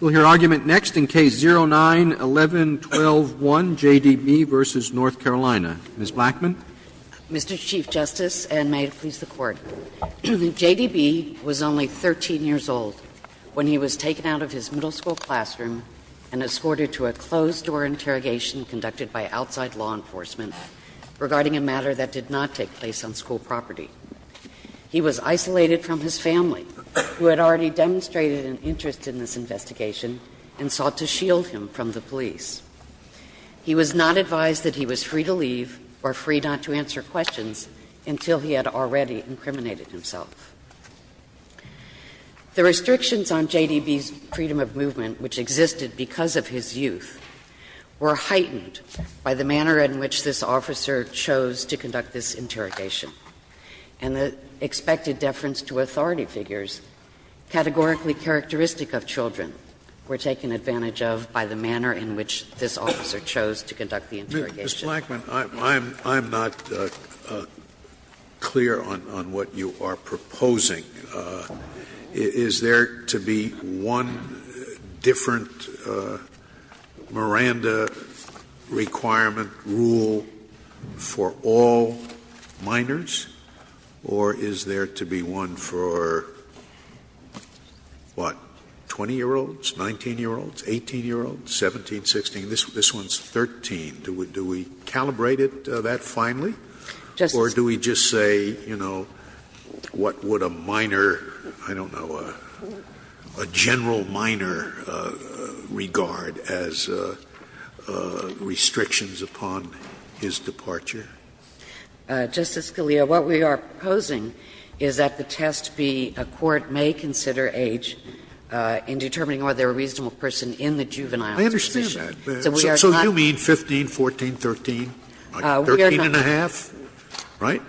We'll hear argument next in Case 09-11-12-1, J.D.B. v. North Carolina. Ms. Blackman. Mr. Chief Justice, and may it please the Court, J.D.B. was only 13 years old when he was taken out of his middle school classroom and escorted to a closed-door interrogation conducted by outside law enforcement regarding a matter that did not take place on school property. He was isolated from his family, who had already demonstrated an interest in this investigation and sought to shield him from the police. He was not advised that he was free to leave or free not to answer questions until he had already incriminated himself. The restrictions on J.D.B.'s freedom of movement, which existed because of his youth, were heightened by the manner in which this officer chose to conduct this interrogation. And the expected deference to authority figures, categorically characteristic of children, were taken advantage of by the manner in which this officer chose to conduct the interrogation. No, Ms. Blackman, I'm not clear on what you are proposing. Is there to be one different Miranda requirement rule for all minors? Or is there to be one for, what, 20-year-olds, 19-year-olds, 18-year-olds, 17, 16? This one is 13. Do we calibrate that finally? Justice Scalia. Or do we just say, you know, what would a minor, I don't know, a general minor regard as restrictions upon his departure? Justice Scalia, what we are proposing is that the test be a court may consider age in determining whether a reasonable person in the juvenile position. I understand that. So we are not. So you mean 15, 14, 13, 13 and a half, right?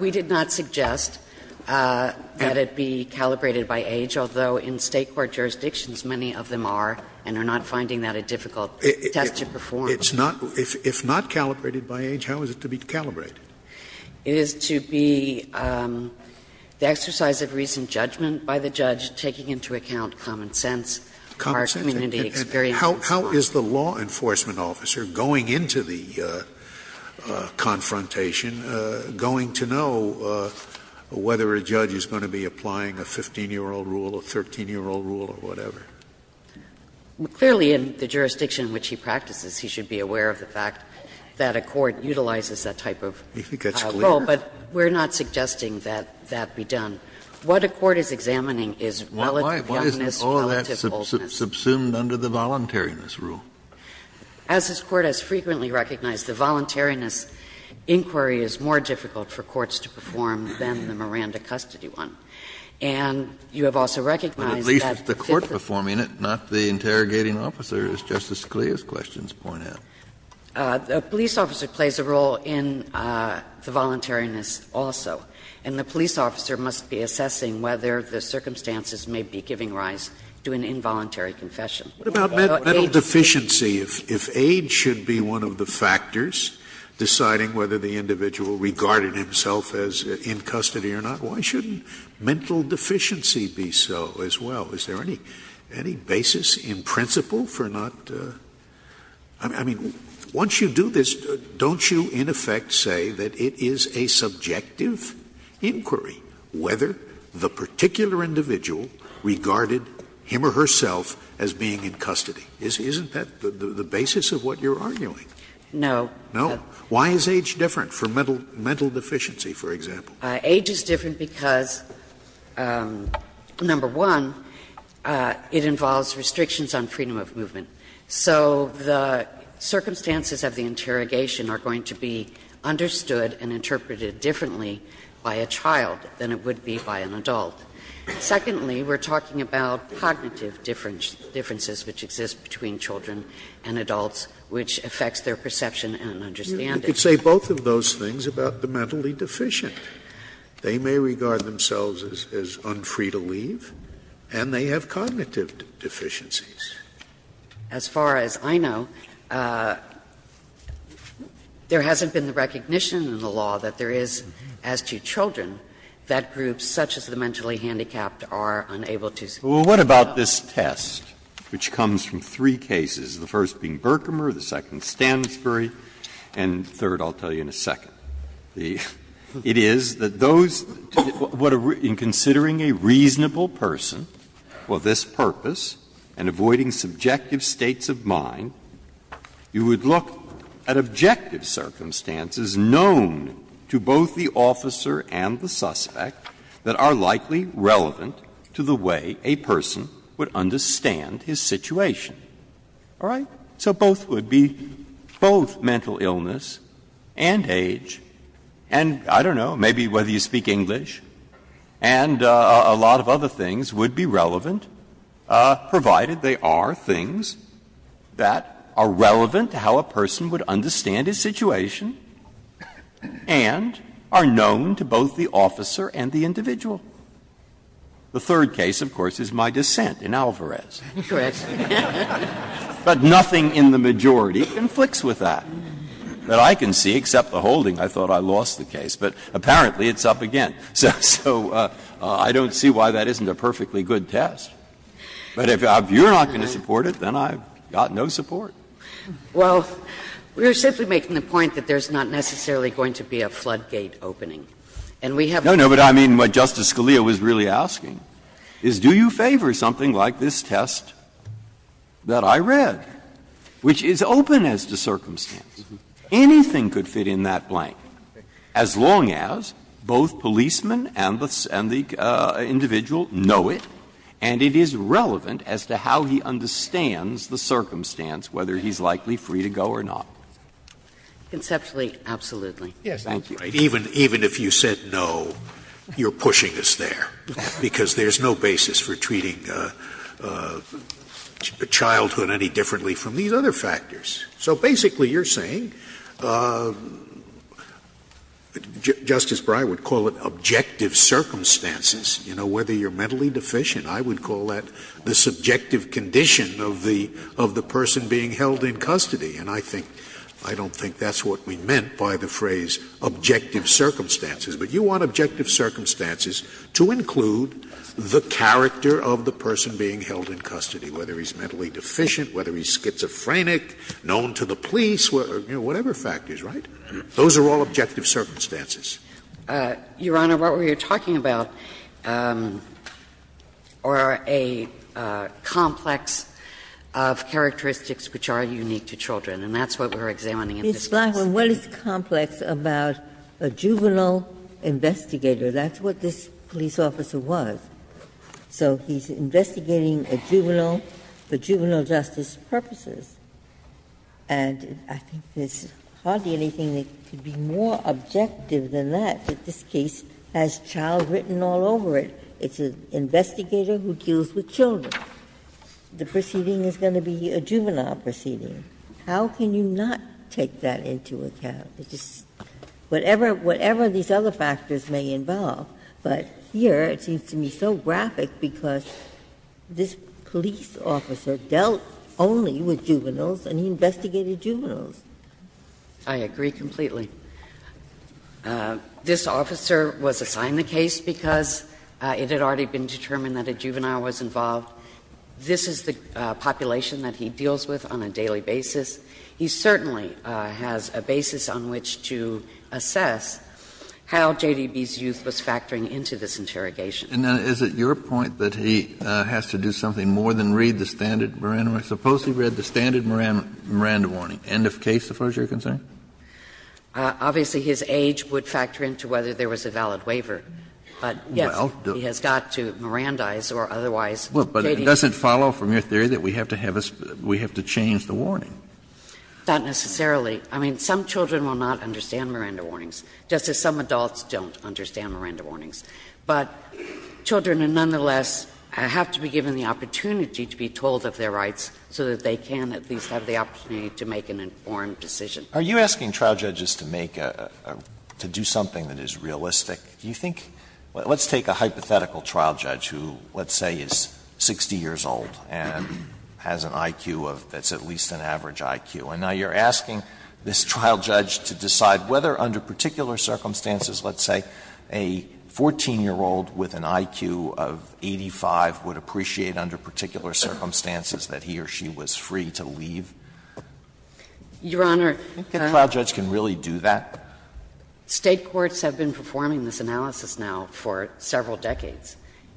We did not suggest that it be calibrated by age, although in State court jurisdictions many of them are and are not finding that a difficult test to perform. If not calibrated by age, how is it to be calibrated? It is to be the exercise of recent judgment by the judge taking into account common sense, our community experience. How is the law enforcement officer going into the confrontation, going to know whether a judge is going to be applying a 15-year-old rule, a 13-year-old rule or whatever? Clearly, in the jurisdiction in which he practices, he should be aware of the fact that a court utilizes that type of rule. But we are not suggesting that that be done. What a court is examining is relative youngness, relative oldness. Why isn't all that subsumed under the voluntariness rule? As this Court has frequently recognized, the voluntariness inquiry is more difficult for courts to perform than the Miranda custody one. And you have also recognized that the court performs the voluntary test. I mean, not the interrogating officer, as Justice Scalia's questions point out. The police officer plays a role in the voluntariness also. And the police officer must be assessing whether the circumstances may be giving rise to an involuntary confession. Scalia. What about mental deficiency? If age should be one of the factors deciding whether the individual regarded himself as in custody or not, why shouldn't mental deficiency be so as well? Is there any basis in principle for not – I mean, once you do this, don't you in effect say that it is a subjective inquiry whether the particular individual regarded him or herself as being in custody? Isn't that the basis of what you're arguing? No. No? Why is age different for mental deficiency, for example? Age is different because, number one, it involves restrictions on freedom of movement. So the circumstances of the interrogation are going to be understood and interpreted differently by a child than it would be by an adult. Secondly, we're talking about cognitive differences which exist between children and adults, which affects their perception and understanding. You could say both of those things about the mentally deficient. They may regard themselves as unfree to leave, and they have cognitive deficiencies. As far as I know, there hasn't been the recognition in the law that there is, as to children, that groups such as the mentally handicapped are unable to speak. Well, what about this test, which comes from three cases, the first being Berkmer, the second Stansbury, and the third, I'll tell you in a second? It is that those to the — in considering a reasonable person for this purpose and avoiding subjective states of mind, you would look at objective circumstances known to both the officer and the suspect that are likely relevant to the way a person would understand his situation. All right? So both would be — both mental illness and age and, I don't know, maybe whether you speak English, and a lot of other things would be relevant, provided they are things that are relevant to how a person would understand his situation and are known to both the officer and the individual. The third case, of course, is my dissent in Alvarez. But nothing in the majority conflicts with that, that I can see, except the holding. I thought I lost the case, but apparently it's up again. So I don't see why that isn't a perfectly good test. But if you're not going to support it, then I've got no support. Well, we're simply making the point that there's not necessarily going to be a floodgate opening. And we have not. No, no, but I mean what Justice Scalia was really asking is, do you favor something like this test that I read, which is open as to circumstance? Anything could fit in that blank, as long as both policemen and the individual know it and it is relevant as to how he understands the circumstance, whether he's likely free to go or not. Conceptually, absolutely. Yes. Thank you. Even if you said no, you're pushing us there, because there's no basis for treating childhood any differently from these other factors. So basically, you're saying, Justice Breyer would call it objective circumstances. You know, whether you're mentally deficient, I would call that the subjective condition of the person being held in custody. And I think that's what we meant by the phrase objective circumstances. But you want objective circumstances to include the character of the person being held in custody, whether he's mentally deficient, whether he's schizophrenic, known to the police, you know, whatever factors, right? Those are all objective circumstances. Your Honor, what we are talking about are a complex of characteristics which are unique to children, and that's what we're examining in this case. Ginsburg. It's not what is complex about a juvenile investigator. That's what this police officer was. So he's investigating a juvenile for juvenile justice purposes. And I think there's hardly anything that could be more objective than that. This case has child written all over it. It's an investigator who deals with children. The proceeding is going to be a juvenile proceeding. How can you not take that into account? Whatever these other factors may involve. But here it seems to me so graphic because this police officer dealt only with juveniles and he investigated juveniles. I agree completely. This officer was assigned the case because it had already been determined that a juvenile was involved. This is the population that he deals with on a daily basis. He certainly has a basis on which to assess how JDB's youth was factoring into this interrogation. Kennedy. And is it your point that he has to do something more than read the standard Miranda warning? Suppose he read the standard Miranda warning, end of case, as far as you're concerned? Obviously, his age would factor into whether there was a valid waiver. But, yes, he has got to Mirandize or otherwise. But it doesn't follow from your theory that we have to have a we have to change the warning? Not necessarily. I mean, some children will not understand Miranda warnings, just as some adults don't understand Miranda warnings. But children nonetheless have to be given the opportunity to be told of their rights so that they can at least have the opportunity to make an informed decision. Are you asking trial judges to make a, to do something that is realistic? Do you think, let's take a hypothetical trial judge who, let's say, is 60 years old and has an IQ of, that's at least an average IQ. And now you're asking this trial judge to decide whether under particular circumstances, let's say, a 14-year-old with an IQ of 85 would appreciate under particular circumstances that he or she was free to leave? Your Honor, can I? A trial judge can really do that? State courts have been performing this analysis now for several decades,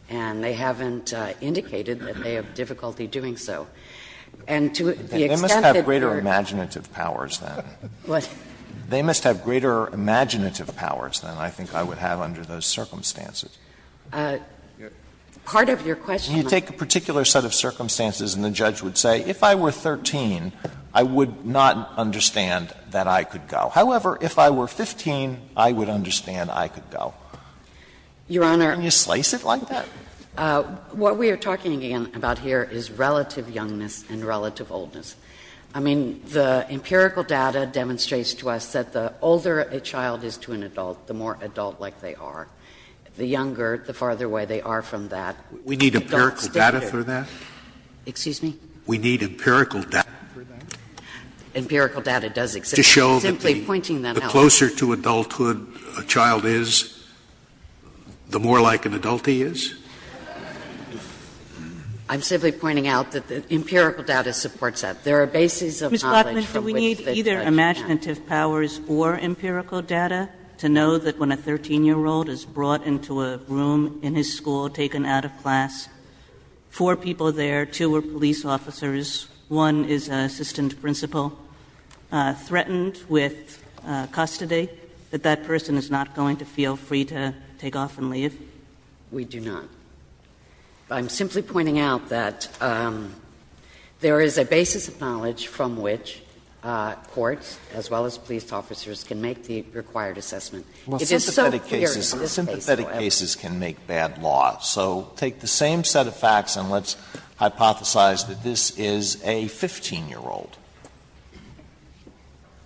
and they haven't indicated that they have difficulty doing so. And to the extent that they're going to do that, they're going to do that. Alito, they must have greater imaginative powers than I think I would have under those circumstances. Part of your question, Your Honor. You take a particular set of circumstances and the judge would say, if I were 13, I would not understand that I could go. However, if I were 15, I would understand I could go. Your Honor. Can you slice it like that? What we are talking about here is relative youngness and relative oldness. I mean, the empirical data demonstrates to us that the older a child is to an adult, the more adult-like they are. The younger, the farther away they are from that, the adults stick to it. We need empirical data for that? Excuse me? We need empirical data for that? Empirical data does exist. I'm just pointing that out. The closer to adulthood a child is, the more like an adult he is? I'm simply pointing out that the empirical data supports that. There are bases of knowledge from which the judge can't. Ms. Blattman, do we need either imaginative powers or empirical data to know that when a 13-year-old is brought into a room in his school, taken out of class, four people there, two were police officers, one is an assistant principal, threatened with custody, that that person is not going to feel free to take off and leave? We do not. I'm simply pointing out that there is a basis of knowledge from which courts, as well as police officers, can make the required assessment. It is so clear in this case, though. Well, sympathetic cases can make bad law. So take the same set of facts and let's hypothesize that this is a 15-year-old.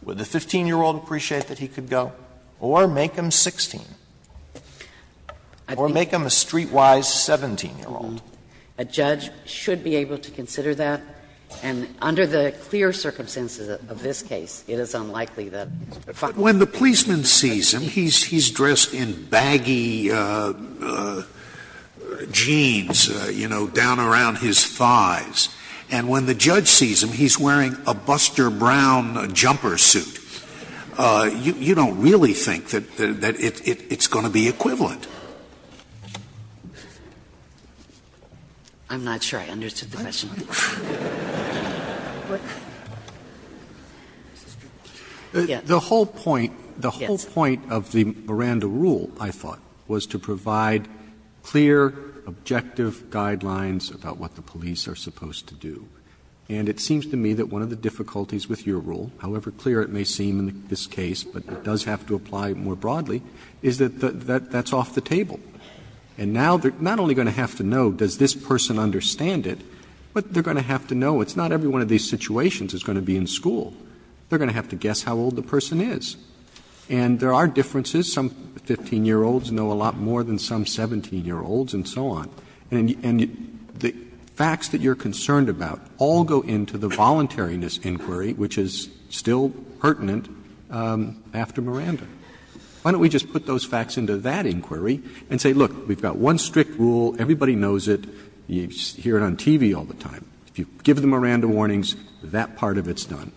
Would the 15-year-old appreciate that he could go? Or make him 16? Or make him a streetwise 17-year-old? A judge should be able to consider that. And under the clear circumstances of this case, it is unlikely that a 5-year-old would be able to consider that. Scalia, when the policeman sees him, he's dressed in baggy jeans, you know, down around his thighs. And when the judge sees him, he's wearing a Buster Brown jumper suit. You don't really think that it's going to be equivalent. I'm not sure I understood the question. The whole point, the whole point of the Miranda rule, I thought, was to provide clear, objective guidelines about what the police are supposed to do. And it seems to me that one of the difficulties with your rule, however clear it may seem in this case, but it does have to apply more broadly, is that that's off the table. And now they're not only going to have to know, does this person understand it, but they're going to have to know it's not every one of these situations that's going to be in school. They're going to have to guess how old the person is. And there are differences. Some 15-year-olds know a lot more than some 17-year-olds and so on. And the facts that you're concerned about all go into the voluntariness inquiry, which is still pertinent after Miranda. Why don't we just put those facts into that inquiry and say, look, we've got one strict rule, everybody knows it, you hear it on TV all the time. If you give the Miranda warnings, that part of it's done.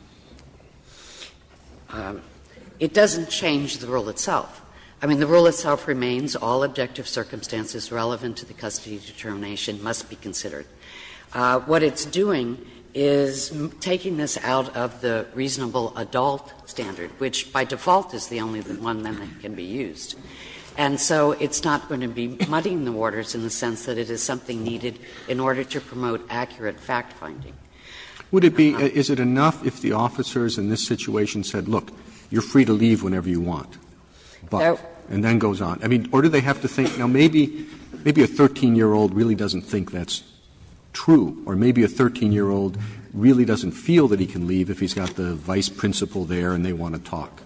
It doesn't change the rule itself. I mean, the rule itself remains all objective circumstances relevant to the custody determination must be considered. What it's doing is taking this out of the reasonable adult standard, which by default is the only one that can be used. And so it's not going to be muddying the waters in the sense that it is something needed in order to promote accurate fact-finding. Roberts Is it enough if the officers in this situation said, look, you're free to leave whenever you want, but, and then goes on. Or do they have to think, now, maybe a 13-year-old really doesn't think that's true, or maybe a 13-year-old really doesn't feel that he can leave if he's got the vice principal there and they want to talk.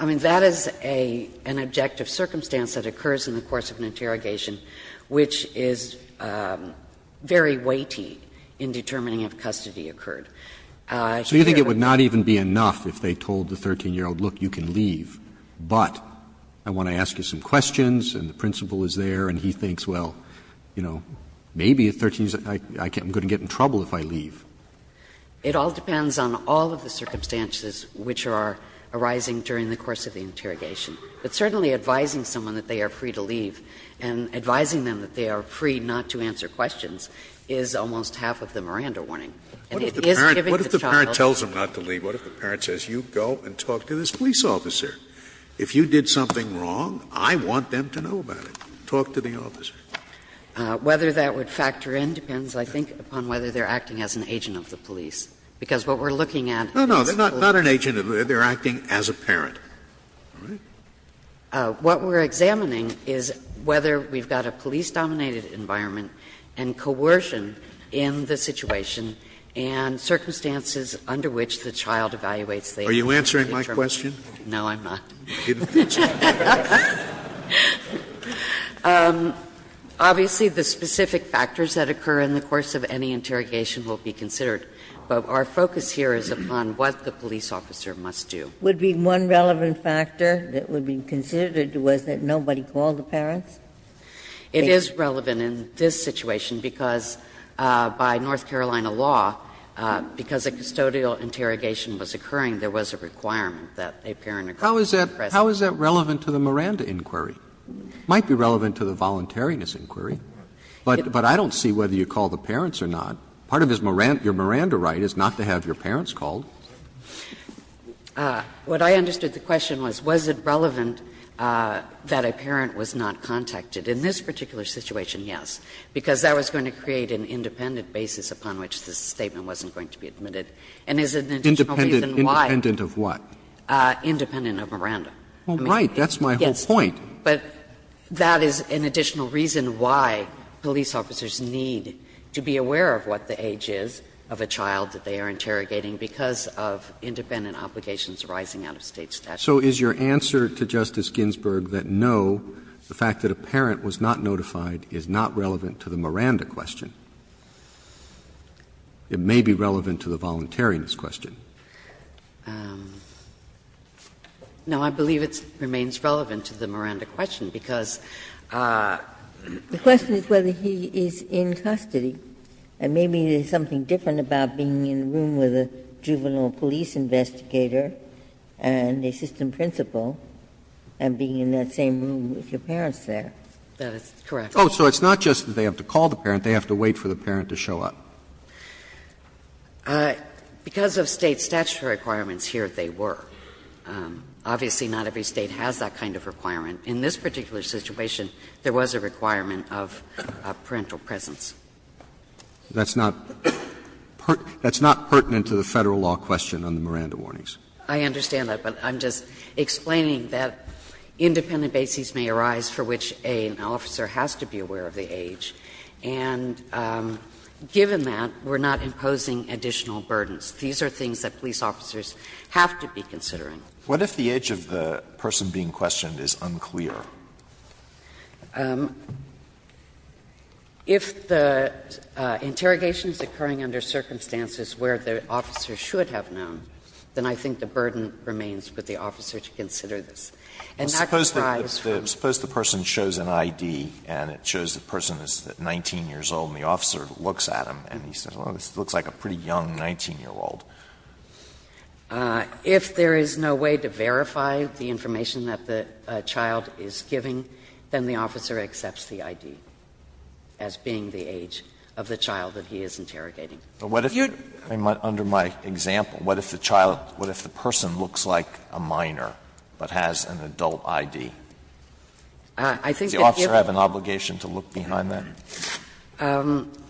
I mean, that is an objective circumstance that occurs in the course of an interrogation which is very weighty in determining if custody occurred. Roberts So you think it would not even be enough if they told the 13-year-old, look, you can leave, but I want to ask you some questions and the principal is there and he thinks, well, you know, maybe a 13-year-old is like, I'm going to get in trouble if I leave. It all depends on all of the circumstances which are arising during the course of the interrogation. But certainly advising someone that they are free to leave and advising them that they are free not to answer questions is almost half of the Miranda warning. And it is giving the child a chance to leave. Scalia What if the parent tells them not to leave? What if the parent says, you go and talk to this police officer. If you did something wrong, I want them to know about it. Talk to the officer. And whether that would factor in depends, I think, upon whether they're acting as an agent of the police. Because what we're looking at is the police officer. Scalia No, no, they're not an agent of the police, they're acting as a parent. All right. What we're examining is whether we've got a police-dominated environment and coercion in the situation and circumstances under which the child evaluates the agency's determination. Scalia Are you answering my question? No, I'm not. Obviously, the specific factors that occur in the course of any interrogation will be considered. But our focus here is upon what the police officer must do. Ginsburg Would be one relevant factor that would be considered was that nobody called the parents? It is relevant in this situation because by North Carolina law, because a custodial interrogation was occurring, there was a requirement that a parent or guardian present. Roberts How is that relevant to the Miranda inquiry? It might be relevant to the voluntariness inquiry. But I don't see whether you call the parents or not. Part of your Miranda right is not to have your parents called. What I understood the question was, was it relevant that a parent was not contacted? In this particular situation, yes, because that was going to create an independent basis upon which this statement wasn't going to be admitted. And is it an additional reason why? Roberts Independent of what? Ginsburg Independent of Miranda. Roberts Well, right. That's my whole point. Ginsburg But that is an additional reason why police officers need to be aware of what the age is of a child that they are interrogating because of independent obligations arising out of State statute. Roberts So is your answer to Justice Ginsburg that no, the fact that a parent was not notified is not relevant to the Miranda question? It may be relevant to the voluntariness question. Ginsburg No, I believe it remains relevant to the Miranda question because the question is whether he is in custody, and maybe there's something different about being in a room with a juvenile police investigator and assistant principal and being in that same room with your parents there. That is correct. Roberts Oh, so it's not just that they have to call the parent. They have to wait for the parent to show up. Ginsburg Because of State statutory requirements, here they were. Obviously, not every State has that kind of requirement. In this particular situation, there was a requirement of parental presence. Roberts That's not pertinent to the Federal law question on the Miranda warnings. Ginsburg I understand that, but I'm just explaining that independent bases may arise for which an officer has to be aware of the age, and given that, we're not imposing additional burdens. These are things that police officers have to be considering. Alito What if the age of the person being questioned is unclear? Ginsburg If the interrogation is occurring under circumstances where the officer should have known, then I think the burden remains for the officer to consider this. And that would arise from the fact that the officer is 19 years old, and the officer looks at him, and he says, well, this looks like a pretty young 19-year-old. If there is no way to verify the information that the child is giving, then the officer accepts the ID as being the age of the child that he is interrogating. Alito But what if, under my example, what if the child, what if the person looks like a minor but has an adult ID? Does the officer have an obligation to look behind that?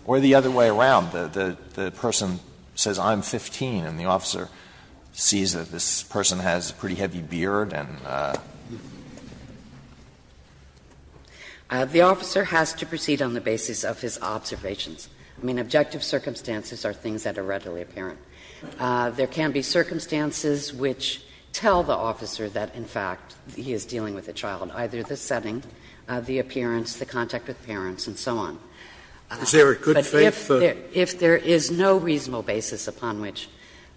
Or the other way around, the person says, I'm 15, and the officer sees that this person has a pretty heavy beard and a. Ginsburg The officer has to proceed on the basis of his observations. I mean, objective circumstances are things that are readily apparent. There can be circumstances which tell the officer that, in fact, he is dealing with a child, either the setting, the appearance, the contact with parents and so on. Scalia Is there a good faith? Ginsburg If there is no reasonable basis upon which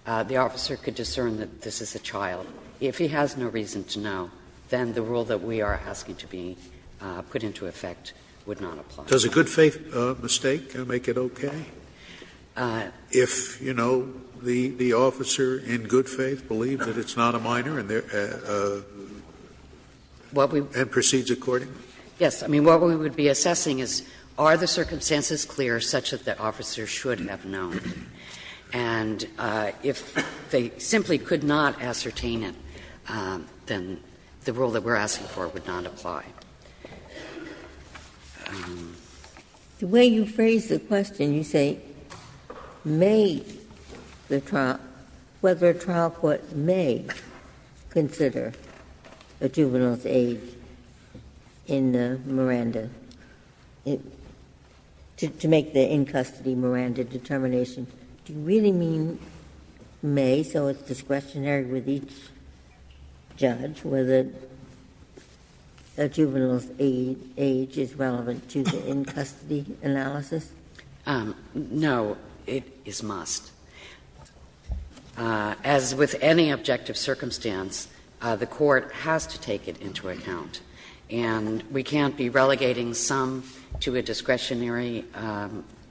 the officer could discern that this is a child, if he has no reason to know, then the rule that we are asking to be put into effect would not apply. Scalia Does a good faith mistake make it okay if, you know, the officer, in good faith, believes that it's not a minor and there, and proceeds accordingly? Ginsburg Yes. I mean, what we would be assessing is, are the circumstances clear such that the officer should have known? And if they simply could not ascertain it, then the rule that we are asking for would not apply. Ginsburg The way you phrase the question, you say, may the trial – whether a trial court may consider a juvenile's age in the Miranda – to make the in-custody Miranda determination, do you really mean may, so it's discretionary with each judge, whether a juvenile's age is relevant to the in-custody analysis? Ginsburg No, it is must. As with any objective circumstance, the court has to take it into account. And we can't be relegating some to a discretionary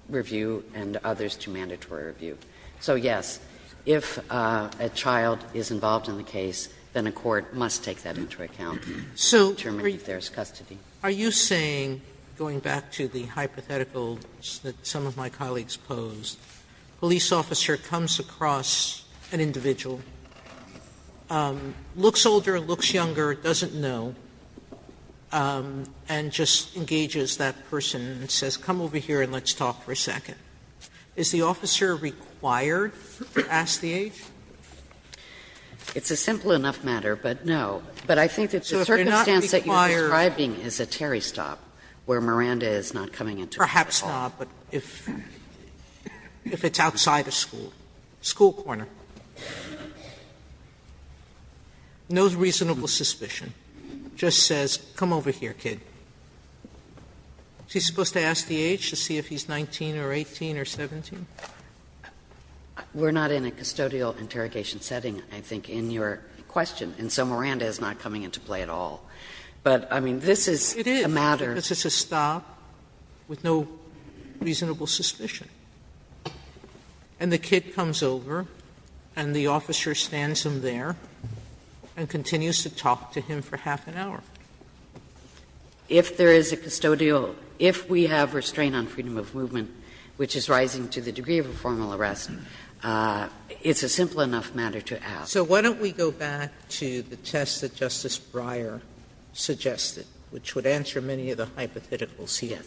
review and others to mandatory review. So, yes, if a child is involved in the case, then a court must take that into account to determine if there is custody. Sotomayor Sotomayor, you are saying, going back to the hypothetical that some of my colleagues posed, a police officer comes across an individual, looks older, looks younger, doesn't know, and just engages that person and says, come over here and let's talk for a second. Is the officer required to ask the age? Ginsburg It's a simple enough matter, but no. But I think that the circumstance that you are describing is a Terry stop. Where Miranda is not coming into play at all. Sotomayor Perhaps not, but if it's outside a school, school corner, no reasonable suspicion. Just says, come over here, kid. Is he supposed to ask the age to see if he's 19 or 18 or 17? Ginsburg We're not in a custodial interrogation setting, I think, in your question. And so Miranda is not coming into play at all. But, I mean, this is a matter. Sotomayor This is a stop with no reasonable suspicion. And the kid comes over and the officer stands him there and continues to talk to him for half an hour. Ginsburg If there is a custodial – if we have restraint on freedom of movement, which is rising to the degree of a formal arrest, it's a simple enough matter to ask. Sotomayor So why don't we go back to the test that Justice Breyer suggested, which would answer many of the hypotheticals here,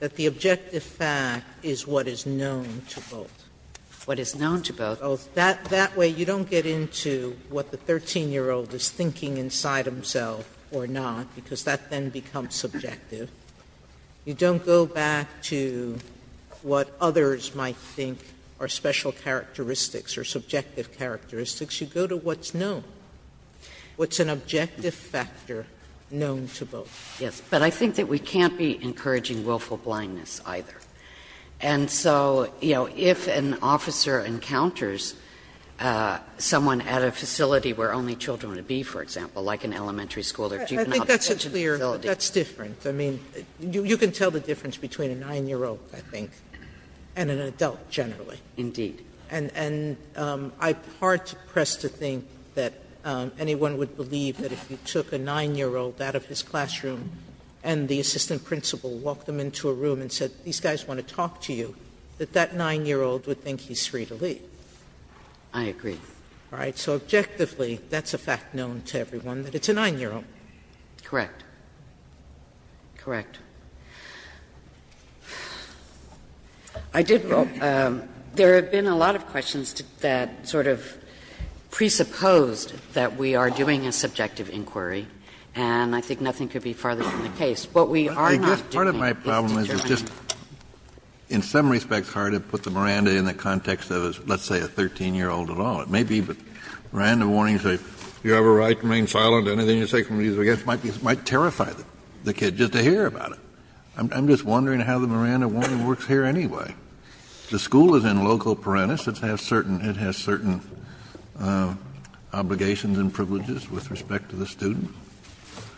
that the objective fact is what is known to both. Ginsburg What is known to both. Sotomayor That way you don't get into what the 13-year-old is thinking inside himself or not, because that then becomes subjective. You don't go back to what others might think are special characteristics or subjective characteristics. You go to what's known, what's an objective factor known to both. Ginsburg Yes. But I think that we can't be encouraging willful blindness, either. And so, you know, if an officer encounters someone at a facility where only children would be, for example, like an elementary school or juvenile detention facility Sotomayor I think that's a clear – that's different. I mean, you can tell the difference between a 9-year-old, I think, and an adult, generally. Ginsburg Indeed. Sotomayor And I'm hard-pressed to think that anyone would believe that if you took a 9-year-old out of his classroom and the assistant principal walked him into a room and said, these guys want to talk to you, that that 9-year-old would think he's free to leave. Ginsburg I agree. Sotomayor All right. So objectively, that's a fact known to everyone, that it's a 9-year-old. Ginsburg Correct. Correct. I did – there have been a lot of questions that sort of presupposed that we are doing a subjective inquiry, and I think nothing could be farther from the case. What we are not doing is determining. Kennedy I guess part of my problem is just, in some respects, it's hard to put the Miranda in the context of, let's say, a 13-year-old at all. It may be, but Miranda warnings say, you have a right to remain silent. Anything you say can be used against – might be – might terrify the kid just to hear about it. I'm just wondering how the Miranda warning works here anyway. The school is in loco parentis. It has certain – it has certain obligations and privileges with respect to the student. Ginsburg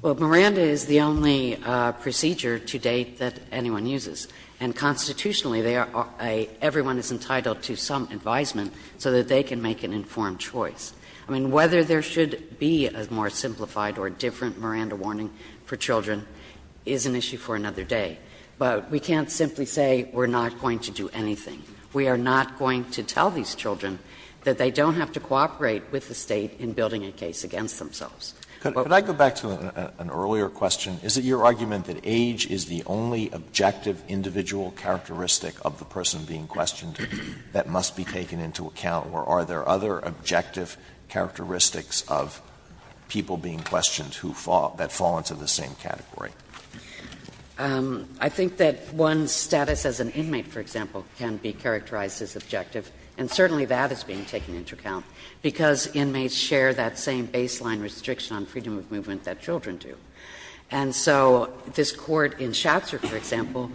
Well, Miranda is the only procedure to date that anyone uses. And constitutionally, they are a – everyone is entitled to some advisement so that they can make an informed choice. I mean, whether there should be a more simplified or different Miranda warning for children is an issue for another day. But we can't simply say we're not going to do anything. We are not going to tell these children that they don't have to cooperate with the State in building a case against themselves. Alito Could I go back to an earlier question? Is it your argument that age is the only objective individual characteristic of the person being questioned that must be taken into account, or are there other objective characteristics of people being questioned who fall – that fall into the same category? I think that one's status as an inmate, for example, can be characterized as objective, and certainly that is being taken into account, because inmates share that same baseline restriction on freedom of movement that children do. And so this Court in Shatzer, for example,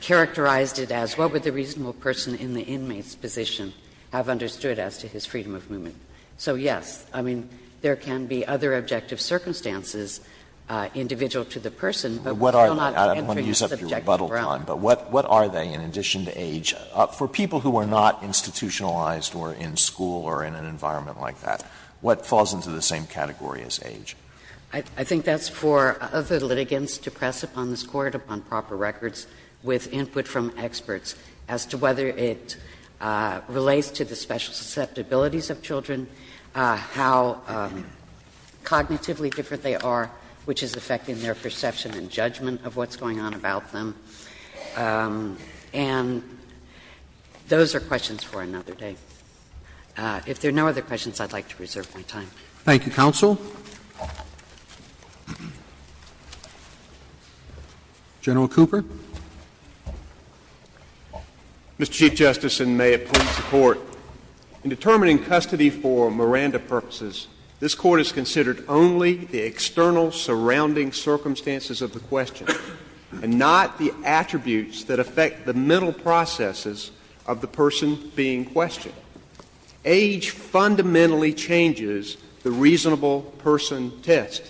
characterized it as what would the reasonable person in the inmate's position have understood as to his freedom of movement. So, yes, I mean, there can be other objective circumstances, individual to the person, but we will not enter into the subjective realm. Alito I don't want to use up your rebuttal time, but what are they in addition to age? For people who are not institutionalized or in school or in an environment like that, what falls into the same category as age? I think that's for other litigants to press upon this Court, upon proper records, with input from experts as to whether it relates to the special susceptibilities of children, how cognitively different they are, which is affecting their perception and judgment of what's going on about them. And those are questions for another day. If there are no other questions, I'd like to reserve my time. Roberts Thank you, counsel. General Cooper. Cooper Mr. Chief Justice, and may it please the Court, in determining custody for Miranda purposes, this Court has considered only the external surrounding circumstances of the question, and not the attributes that affect the mental processes of the person being questioned. Age fundamentally changes the reasonable person test,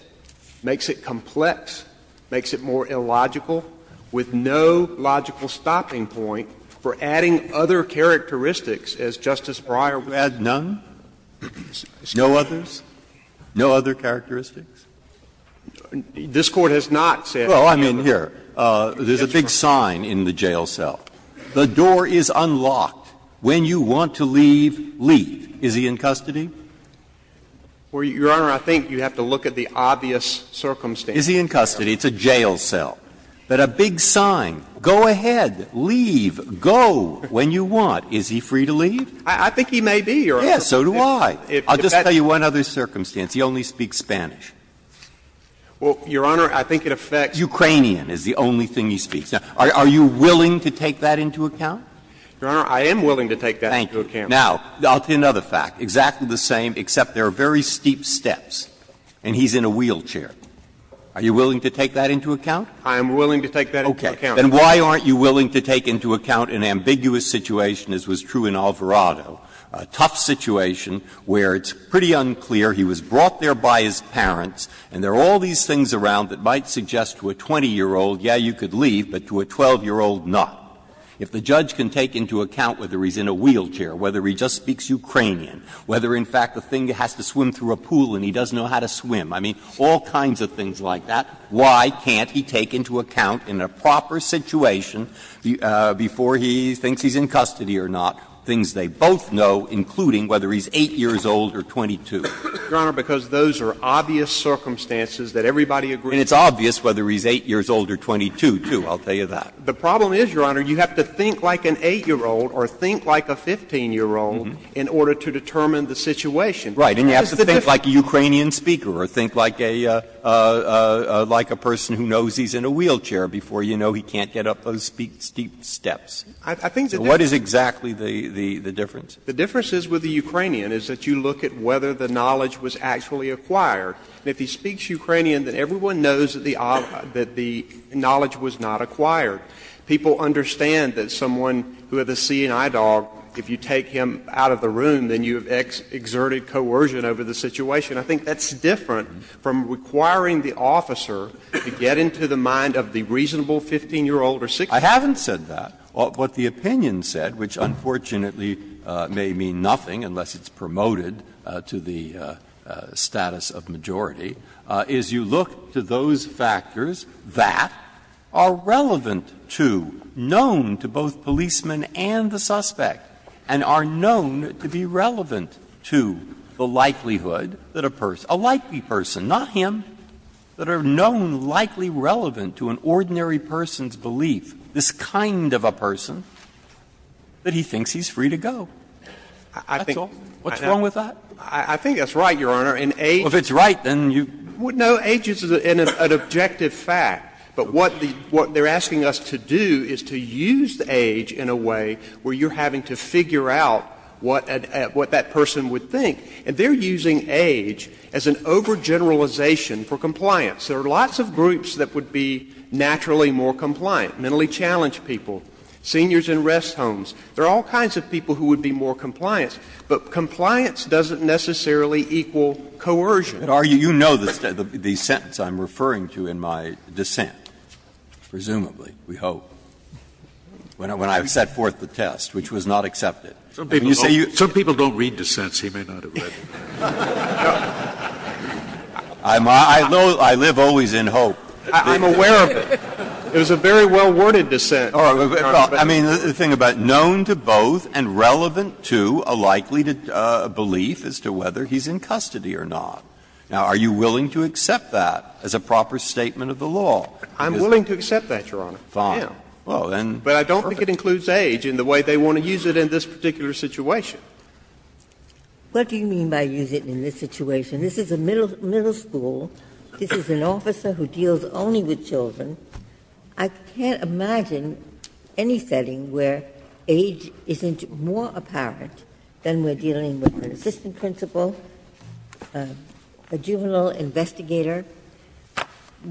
makes it complex, makes it more difficult, and leaves it with no logical stopping point for adding other characteristics as Justice Breyer would. Breyer Add none? No others? No other characteristics? Cooper This Court has not said that. Breyer Well, I mean, here. There's a big sign in the jail cell. The door is unlocked. When you want to leave, leave. Is he in custody? Cooper Your Honor, I think you have to look at the obvious circumstances. Breyer Is he in custody? It's a jail cell. But a big sign, go ahead, leave, go, when you want. Is he free to leave? Cooper I think he may be, Your Honor. Breyer Yes. So do I. I'll just tell you one other circumstance. He only speaks Spanish. Cooper Well, Your Honor, I think it affects. Breyer Ukrainian is the only thing he speaks. Now, are you willing to take that into account? Cooper Your Honor, I am willing to take that into account. Breyer Thank you. Now, I'll tell you another fact. Exactly the same, except there are very steep steps and he's in a wheelchair. Are you willing to take that into account? Cooper I am willing to take that into account. Breyer Okay. Then why aren't you willing to take into account an ambiguous situation as was true in Alvarado, a tough situation where it's pretty unclear, he was brought there by his parents, and there are all these things around that might suggest to a 20-year-old, yes, you could leave, but to a 12-year-old, not. If the judge can take into account whether he's in a wheelchair, whether he just speaks Ukrainian, whether, in fact, the thing has to swim through a pool and he doesn't know how to swim, I mean, all kinds of things like that, why can't he take into account in a proper situation, before he thinks he's in custody or not, things they both know, including whether he's 8 years old or 22? Cooper Your Honor, because those are obvious circumstances that everybody agrees with. Breyer And it's obvious whether he's 8 years old or 22, too. I'll tell you that. Cooper The problem is, Your Honor, you have to think like an 8-year-old or think like a 15-year-old in order to determine the situation. Breyer Right. And you have to think like a Ukrainian speaker or think like a person who knows he's in a wheelchair before you know he can't get up those steep steps. What is exactly the difference? Cooper The difference is with the Ukrainian is that you look at whether the knowledge was actually acquired. And if he speaks Ukrainian, then everyone knows that the knowledge was not acquired. People understand that someone with a seeing-eye dog, if you take him out of the room, then you have exerted coercion over the situation. I think that's different from requiring the officer to get into the mind of the reasonable 15-year-old or 16-year-old. Breyer I haven't said that. What the opinion said, which unfortunately may mean nothing unless it's promoted to the status of majority, is you look to those factors that are relevant to, known to both policemen and the suspect, and are known to be relevant to the likelihood that a person, a likely person, not him, that are known likely relevant to an ordinary person's belief, this kind of a person, that he thinks he's free to go. That's all. What's wrong with that? Stewart I think that's right, Your Honor. In age Breyer Well, if it's right, then you Stewart No. Age is an objective fact. But what they're asking us to do is to use age in a way where you're having to figure out what that person would think. And they're using age as an overgeneralization for compliance. There are lots of groups that would be naturally more compliant. Mentally challenged people, seniors in rest homes. There are all kinds of people who would be more compliant. But compliance doesn't necessarily equal coercion. Breyer You know the sentence I'm referring to in my dissent, presumably, we hope, when I've set forth the test, which was not accepted. Scalia Some people don't read dissents. He may not have read it. Breyer I live always in hope. Scalia I'm aware of it. It was a very well-worded dissent. Breyer Well, I mean, the thing about known to both and relevant to a likely belief as to whether he's in custody or not. Now, are you willing to accept that as a proper statement of the law? Stewart I'm willing to accept that, Your Honor. Breyer Fine. Well, then perfect. Stewart But I don't think it includes age in the way they want to use it in this particular situation. Ginsburg What do you mean by use it in this situation? This is a middle school. This is an officer who deals only with children. I can't imagine any setting where age isn't more apparent than we're dealing with an assistant principal, a juvenile investigator,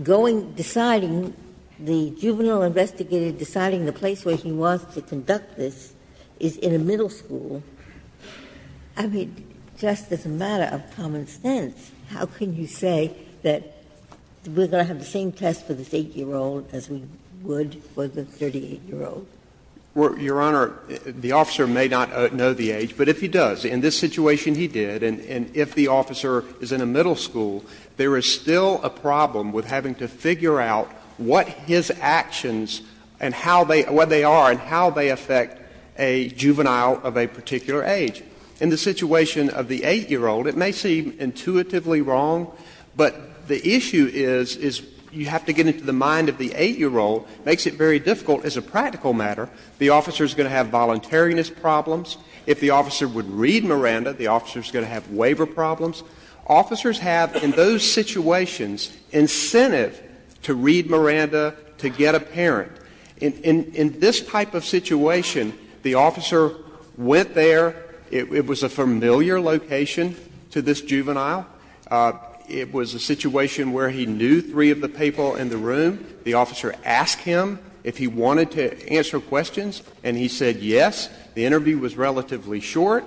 going, deciding, the juvenile investigator deciding the place where he wants to conduct this is in a middle school. I mean, just as a matter of common sense, how can you say that we're going to have the same test for this 8-year-old as we would for the 38-year-old? Stewart Well, Your Honor, the officer may not know the age, but if he does, in this situation he did, and if the officer is in a middle school, there is still a problem with having to figure out what his actions and how they are and how they affect a juvenile of a particular age. In the situation of the 8-year-old, it may seem intuitively wrong, but the issue is you have to get into the mind of the 8-year-old. It makes it very difficult as a practical matter. The officer is going to have voluntariness problems. If the officer would read Miranda, the officer is going to have waiver problems. Officers have, in those situations, incentive to read Miranda, to get a parent. In this type of situation, the officer went there. It was a familiar location to this juvenile. It was a situation where he knew three of the people in the room. The officer asked him if he wanted to answer questions, and he said yes. The interview was relatively short.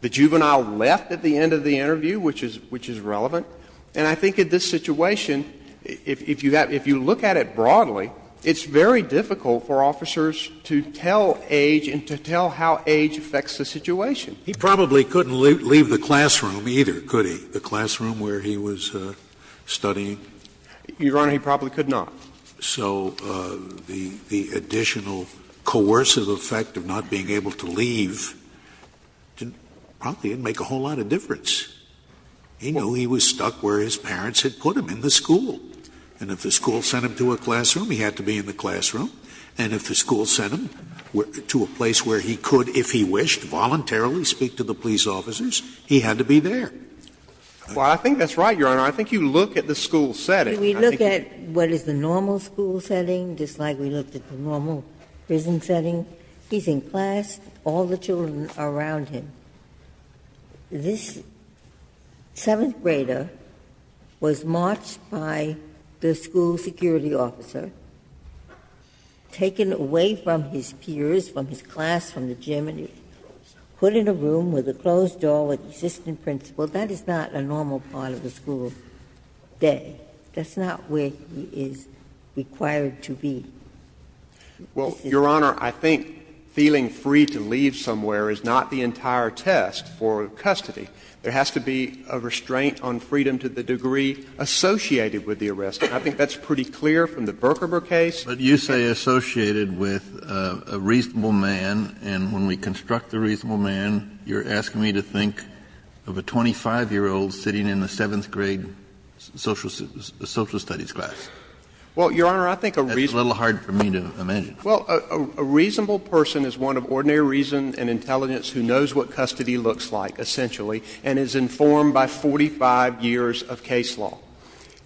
The juvenile left at the end of the interview, which is relevant. And I think in this situation, if you look at it broadly, it's very difficult for officers to tell age and to tell how age affects the situation. He probably couldn't leave the classroom either, could he, the classroom where he was studying? Your Honor, he probably could not. So the additional coercive effect of not being able to leave probably didn't make a whole lot of difference. He knew he was stuck where his parents had put him, in the school. And if the school sent him to a classroom, he had to be in the classroom. And if the school sent him to a place where he could, if he wished, voluntarily speak to the police officers, he had to be there. Well, I think that's right, Your Honor. I think you look at the school setting. We look at what is the normal school setting, just like we looked at the normal prison setting. He's in class, all the children are around him. This seventh grader was marched by the school security officer, taken away from his peers, from his class, from the gym, and he was put in a room with a closed door with an assistant principal. That is not a normal part of a school day. That's not where he is required to be. Well, Your Honor, I think feeling free to leave somewhere is not the entire test. For custody, there has to be a restraint on freedom to the degree associated with the arrest. And I think that's pretty clear from the Berkemberg case. But you say associated with a reasonable man, and when we construct the reasonable man, you're asking me to think of a 25-year-old sitting in the seventh grade social studies class. Well, Your Honor, I think a reasonable person is one of ordinary reason and intelligence who knows what custody looks like, essentially, and is informed by 45 years of case law.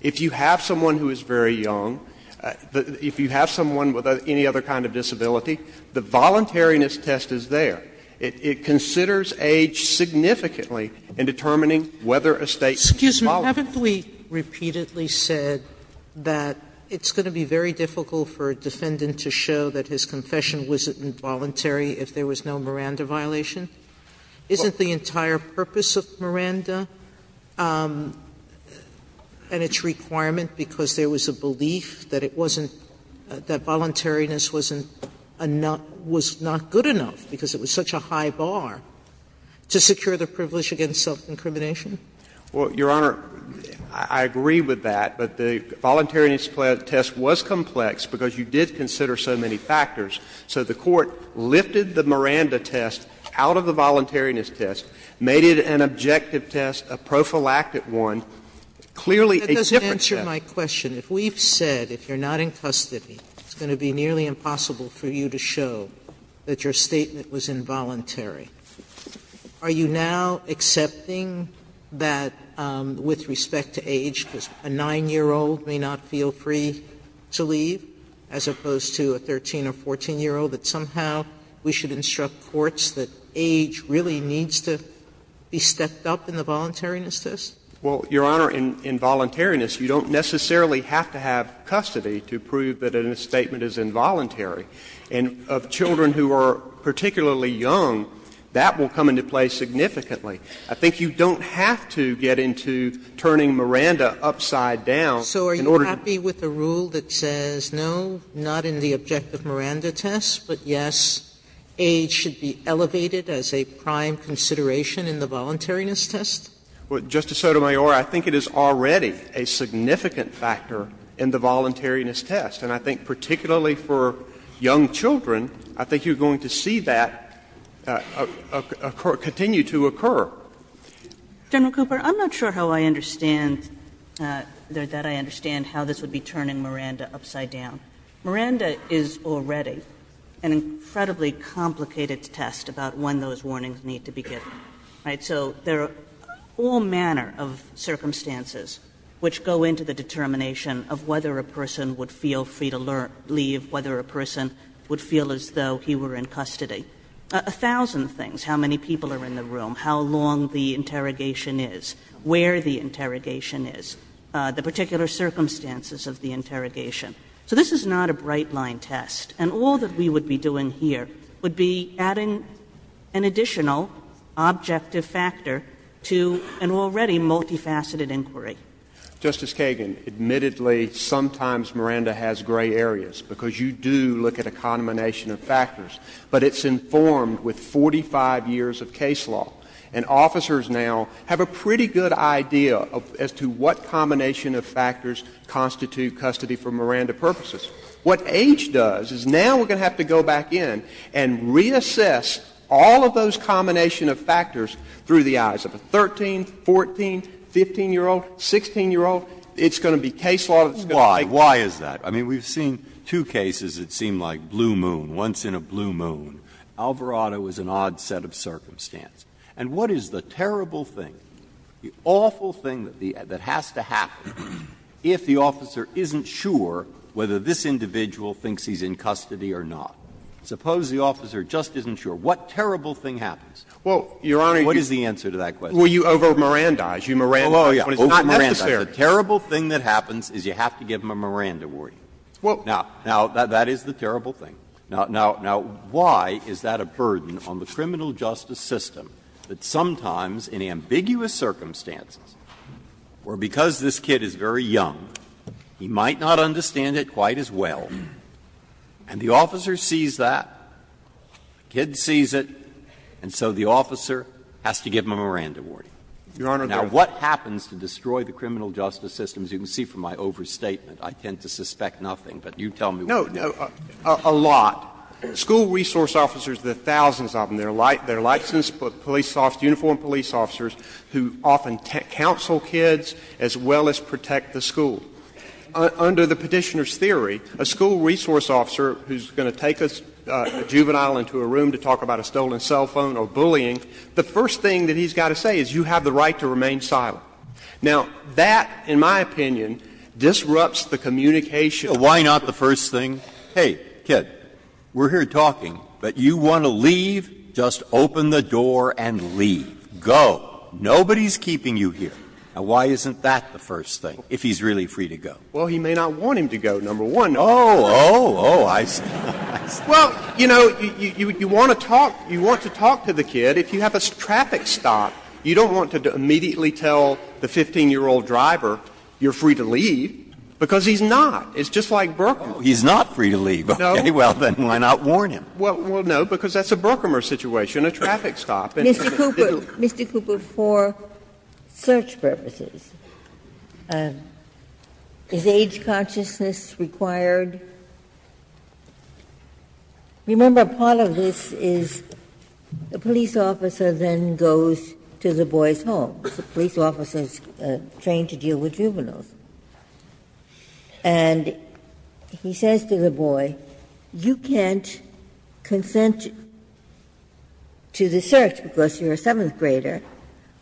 If you have someone who is very young, if you have someone with any other kind of disability, the voluntariness test is there. It considers age significantly in determining whether a State is voluntary. Sotomayor, haven't we repeatedly said that it's going to be very difficult for a defendant to show that his confession wasn't involuntary if there was no Miranda violation? Isn't the entire purpose of Miranda and its requirement, because there was a belief that it wasn't, that voluntariness wasn't, was not good enough, because it was such a high bar, to secure the privilege against self-incrimination? Well, Your Honor, I agree with that, but the voluntariness test was complex, because you did consider so many factors. So the Court lifted the Miranda test out of the voluntariness test, made it an objective test, a prophylactic one, clearly a different test. Sotomayor, that doesn't answer my question. If we've said if you're not in custody, it's going to be nearly impossible for you to show that your statement was involuntary, are you now accepting that with respect to age, because a 9-year-old may not feel free to leave? As opposed to a 13- or 14-year-old, that somehow we should instruct courts that age really needs to be stepped up in the voluntariness test? Well, Your Honor, in voluntariness, you don't necessarily have to have custody to prove that a statement is involuntary. And of children who are particularly young, that will come into play significantly. I think you don't have to get into turning Miranda upside down in order to prove that age is involuntary. test? No, not in the objective Miranda test, but yes, age should be elevated as a prime consideration in the voluntariness test? Well, Justice Sotomayor, I think it is already a significant factor in the voluntariness test, and I think particularly for young children, I think you're going to see that continue to occur. General Cooper, I'm not sure how I understand, that I understand how this would be turning Miranda upside down. Miranda is already an incredibly complicated test about when those warnings need to be given, right? So there are all manner of circumstances which go into the determination of whether a person would feel free to leave, whether a person would feel as though he were in custody. A thousand things, how many people are in the room, how long the interrogation is, where the interrogation is, the particular circumstances of the interrogation. So this is not a bright-line test, and all that we would be doing here would be adding an additional objective factor to an already multifaceted inquiry. Justice Kagan, admittedly, sometimes Miranda has gray areas, because you do look at a combination of factors, but it's informed with 45 years of case law, and officers now have a pretty good idea as to what combination of factors constitute custody for Miranda purposes. What H does is now we're going to have to go back in and reassess all of those combination of factors through the eyes of a 13-, 14-, 15-year-old, 16-year-old. It's going to be case law that's going to make it. Why? Why is that? I mean, we've seen two cases that seem like blue moon, once in a blue moon. Alvarado is an odd set of circumstance. And what is the terrible thing, the awful thing that has to happen if the officer isn't sure whether this individual thinks he's in custody or not? Suppose the officer just isn't sure. What terrible thing happens? What is the answer to that question? Roberts. Well, Your Honor, you over-Mirandaize. You Mirandaize. But it's not necessary. The terrible thing that happens is you have to give him a Miranda warning. Now, that is the terrible thing. Now, why is that a burden on the criminal justice system that sometimes in ambiguous circumstances, where because this kid is very young, he might not understand it quite as well, and the officer sees that, the kid sees it, and so the officer has to give him a Miranda warning? Your Honor, there is no such thing. In the criminal justice system, as you can see from my overstatement, I tend to suspect nothing. But you tell me what you think. No, no, a lot. School resource officers, the thousands of them, they're licensed police officers, uniformed police officers who often counsel kids as well as protect the school. Under the Petitioner's theory, a school resource officer who is going to take a juvenile into a room to talk about a stolen cell phone or bullying, the first thing that he's got to say is you have the right to remain silent. Now, that, in my opinion, disrupts the communication. Breyer. Why not the first thing? Hey, kid, we're here talking, but you want to leave, just open the door and leave. Go. Nobody's keeping you here. Now, why isn't that the first thing, if he's really free to go? Well, he may not want him to go, number one. Oh, oh, oh, I see. Well, you know, you want to talk, you want to talk to the kid. But if you have a traffic stop, you don't want to immediately tell the 15-year-old driver you're free to leave, because he's not. It's just like Berkmer. Oh, he's not free to leave. Okay. No. Well, then why not warn him? Well, no, because that's a Berkmer situation, a traffic stop. Mr. Cooper, Mr. Cooper, for search purposes, is age consciousness required? Remember, part of this is the police officer then goes to the boy's home. The police officer is trained to deal with juveniles. And he says to the boy, you can't consent to the search because you're a seventh grader,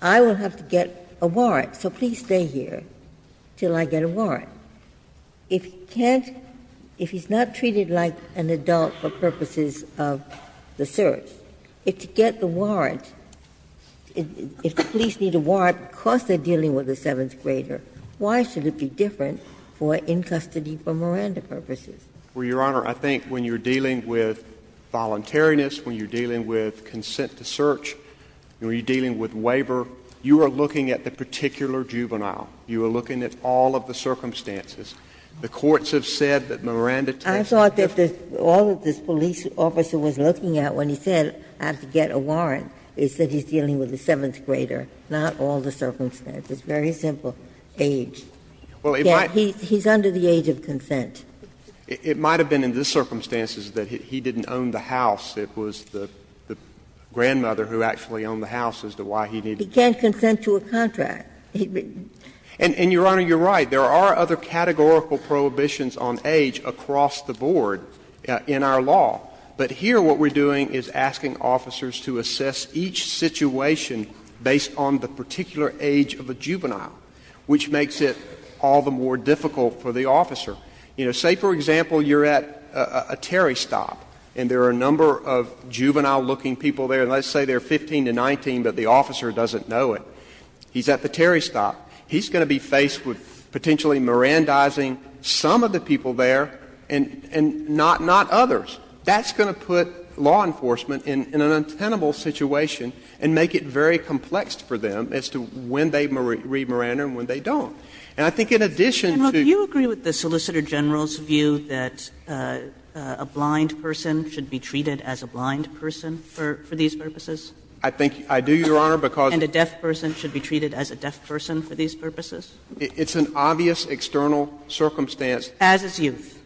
I will have to get a warrant, so please stay here until I get a warrant. If he can't, if he's not treated like an adult for purposes of the search, if to get the warrant, if the police need a warrant because they're dealing with a seventh grader, why should it be different for in custody for Miranda purposes? Well, Your Honor, I think when you're dealing with voluntariness, when you're dealing with consent to search, when you're dealing with waiver, you are looking at the particular juvenile. You are looking at all of the circumstances. The courts have said that Miranda takes a different care. I thought that all that this police officer was looking at when he said I have to get a warrant is that he's dealing with a seventh grader, not all the circumstances. Very simple. Age. He's under the age of consent. It might have been in the circumstances that he didn't own the house. It was the grandmother who actually owned the house as to why he didn't. He can't consent to a contract. And, Your Honor, you're right. There are other categorical prohibitions on age across the board in our law. But here what we're doing is asking officers to assess each situation based on the particular age of a juvenile, which makes it all the more difficult for the officer. You know, say, for example, you're at a Terry stop and there are a number of juvenile looking people there, and let's say they're 15 to 19, but the officer doesn't know it. He's at the Terry stop. He's going to be faced with potentially Mirandizing some of the people there and not others. That's going to put law enforcement in an untenable situation and make it very complex for them as to when they read Miranda and when they don't. And I think in addition to the solicitor general's view that a blind person should be treated as a blind person for these purposes? I think I do, Your Honor, because And a deaf person should be treated as a deaf person for these purposes? It's an obvious external circumstance. As is youth.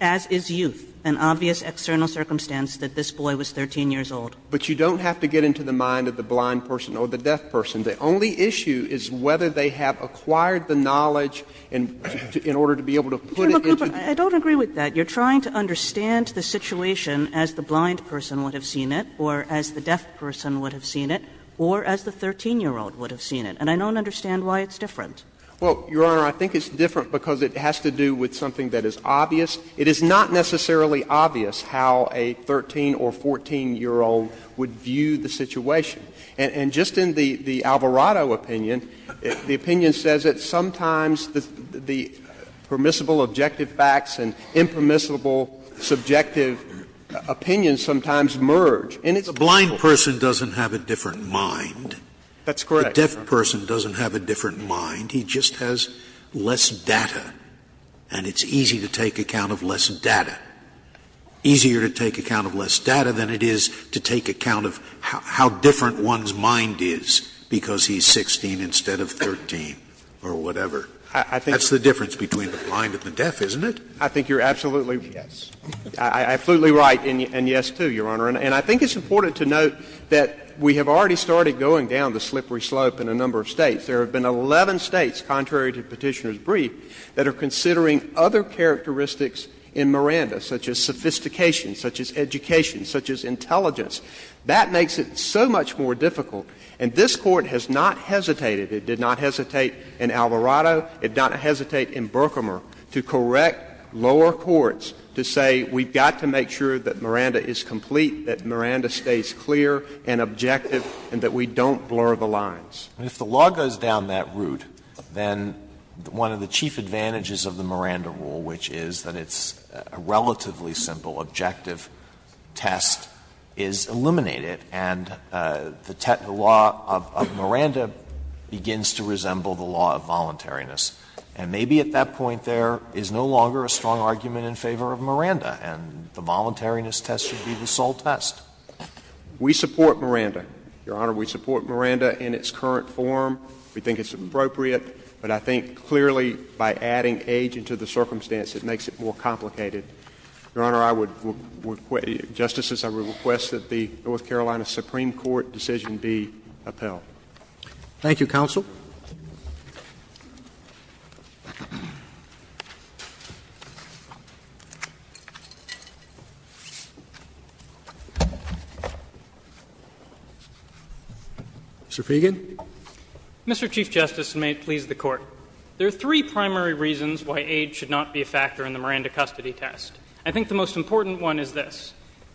As is youth, an obvious external circumstance that this boy was 13 years old. But you don't have to get into the mind of the blind person or the deaf person. The only issue is whether they have acquired the knowledge in order to be able to put it into the mind of the blind person. I don't agree with that. You're trying to understand the situation as the blind person would have seen it or as the deaf person would have seen it or as the 13-year-old would have seen it. And I don't understand why it's different. Well, Your Honor, I think it's different because it has to do with something that is obvious. It is not necessarily obvious how a 13- or 14-year-old would view the situation. And just in the Alvarado opinion, the opinion says that sometimes the permissible objective facts and impermissible subjective opinions sometimes merge. And it's difficult. Scalia's blind person doesn't have a different mind. That's correct. The deaf person doesn't have a different mind. He just has less data, and it's easy to take account of less data. Easier to take account of less data than it is to take account of how different one's mind is because he's 16 instead of 13 or whatever. I think that's the difference between the blind and the deaf, isn't it? I think you're absolutely right. Yes. I'm absolutely right, and yes, too, Your Honor. And I think it's important to note that we have already started going down the slippery slope in a number of States. There have been 11 States, contrary to Petitioner's brief, that are considering other characteristics in Miranda, such as sophistication, such as education, such as intelligence. That makes it so much more difficult. And this Court has not hesitated. It did not hesitate in Alvarado. It did not hesitate in Berkmer to correct lower courts to say we've got to make sure that Miranda is complete, that Miranda stays clear and objective, and that we don't blur the lines. And if the law goes down that route, then one of the chief advantages of the Miranda rule, which is that it's a relatively simple, objective test, is eliminate it, and the law of Miranda begins to resemble the law of voluntariness. And maybe at that point there is no longer a strong argument in favor of Miranda, and the voluntariness test should be the sole test. We support Miranda, Your Honor. We support Miranda in its current form. We think it's appropriate. But I think clearly by adding age into the circumstance, it makes it more complicated. Your Honor, I would request — Justices, I would request that the North Carolina Supreme Court decision be upheld. Thank you, counsel. Mr. Feigin. Mr. Chief Justice, and may it please the Court, there are three primary reasons why age should not be a factor in the Miranda custody test. I think the most important one is this.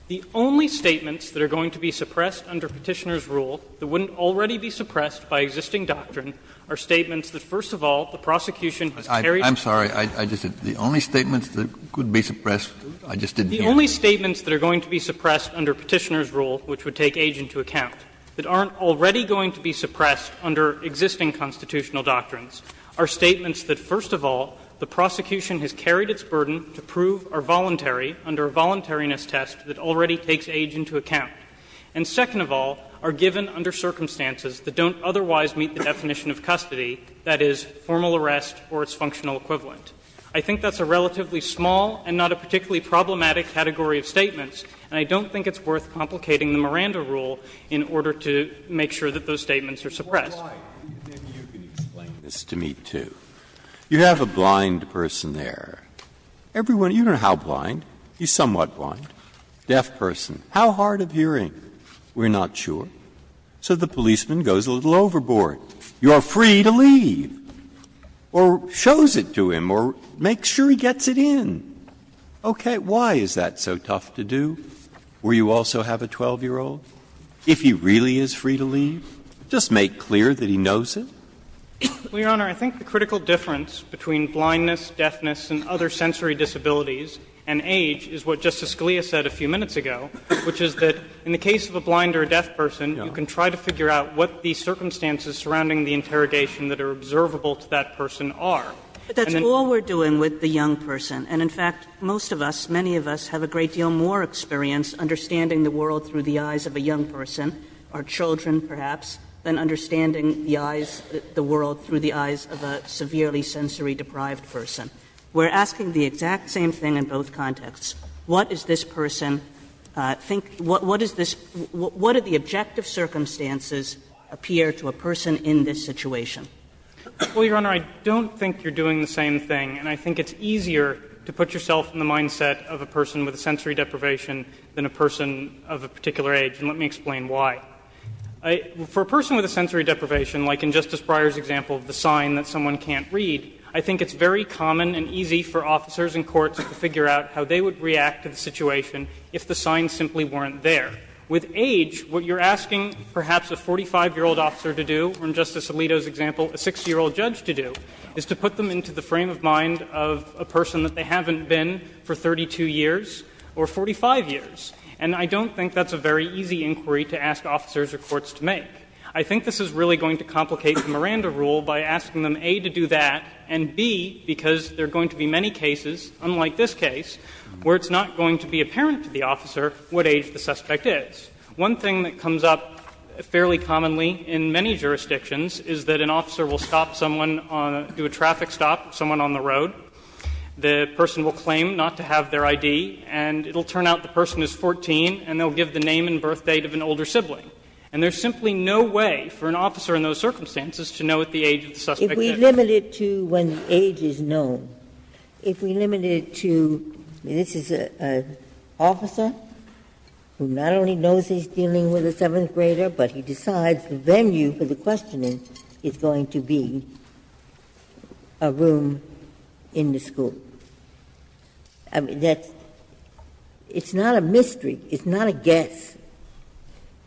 The only statements that are going to be suppressed under Petitioner's rule that wouldn't already be suppressed by existing doctrine are statements that, first of all, the prosecution has carried its burden. I'm sorry. I just — the only statements that could be suppressed, I just didn't hear. The only statements that are going to be suppressed under Petitioner's rule, which would take age into account, that aren't already going to be suppressed under existing constitutional doctrines, are statements that, first of all, the prosecution has carried its burden to prove are voluntary under a voluntariness test that already takes age into account, and, second of all, are given under circumstances that don't otherwise meet the definition of custody, that is, formal arrest or its functional equivalent. I think that's a relatively small and not a particularly problematic category of statements, and I don't think it's worth complicating the Miranda rule in order to make sure that those statements are suppressed. Breyer, maybe you can explain this to me, too. You have a blind person there. Everyone — you don't know how blind. He's somewhat blind. Deaf person. How hard of hearing? We're not sure. So the policeman goes a little overboard. You are free to leave. Or shows it to him, or makes sure he gets it in. Okay. Why is that so tough to do, where you also have a 12-year-old? If he really is free to leave, just make clear that he knows it. Well, Your Honor, I think the critical difference between blindness, deafness, and other sensory disabilities and age is what Justice Scalia said a few minutes ago, which is that in the case of a blind or a deaf person, you can try to figure out what the circumstances surrounding the interrogation that are observable to that person are. But that's all we're doing with the young person. And, in fact, most of us, many of us, have a great deal more experience understanding the world through the eyes of a young person, our children, perhaps, than understanding the eyes — the world through the eyes of a severely sensory-deprived person. We're asking the exact same thing in both contexts. What is this person think — what is this — what are the objective circumstances appear to a person in this situation? Well, Your Honor, I don't think you're doing the same thing, and I think it's easier to put yourself in the mindset of a person with a sensory deprivation than a person of a particular age, and let me explain why. For a person with a sensory deprivation, like in Justice Breyer's example of the sign that someone can't read, I think it's very common and easy for officers in courts to figure out how they would react to the situation if the sign simply weren't there. With age, what you're asking, perhaps, a 45-year-old officer to do, or in Justice Alito's example, a 60-year-old judge to do, is to put them into the frame of mind of a person that they haven't been for 32 years or 45 years, and I don't think that's a very easy inquiry to ask officers or courts to make. I think this is really going to complicate the Miranda rule by asking them, A, to do that, and, B, because there are going to be many cases, unlike this case, where it's not going to be apparent to the officer what age the suspect is. One thing that comes up fairly commonly in many jurisdictions is that an officer will stop someone on the road, do a traffic stop with someone on the road, the person will claim not to have their ID, and it will turn out the person is 14, and they'll give the name and birthdate of an older sibling. And there's simply no way for an officer in those circumstances to know at the age of the suspect's age. Ginsburg's question is, if we limit it to when age is known, if we limit it to this is an officer who not only knows he's dealing with a seventh grader, but he decides the venue for the questioning is going to be a room in the school, I mean, that's not a mystery, it's not a guess.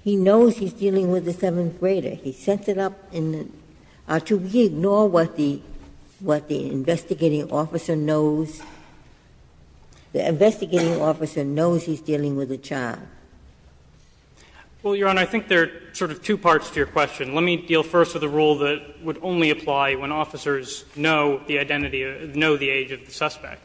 He knows he's dealing with a seventh grader. He sets it up in the to re-ignore what the investigating officer knows, the investigating officer knows he's dealing with a child. Feigin. Well, Your Honor, I think there are sort of two parts to your question. Let me deal first with a rule that would only apply when officers know the identity or know the age of the suspect.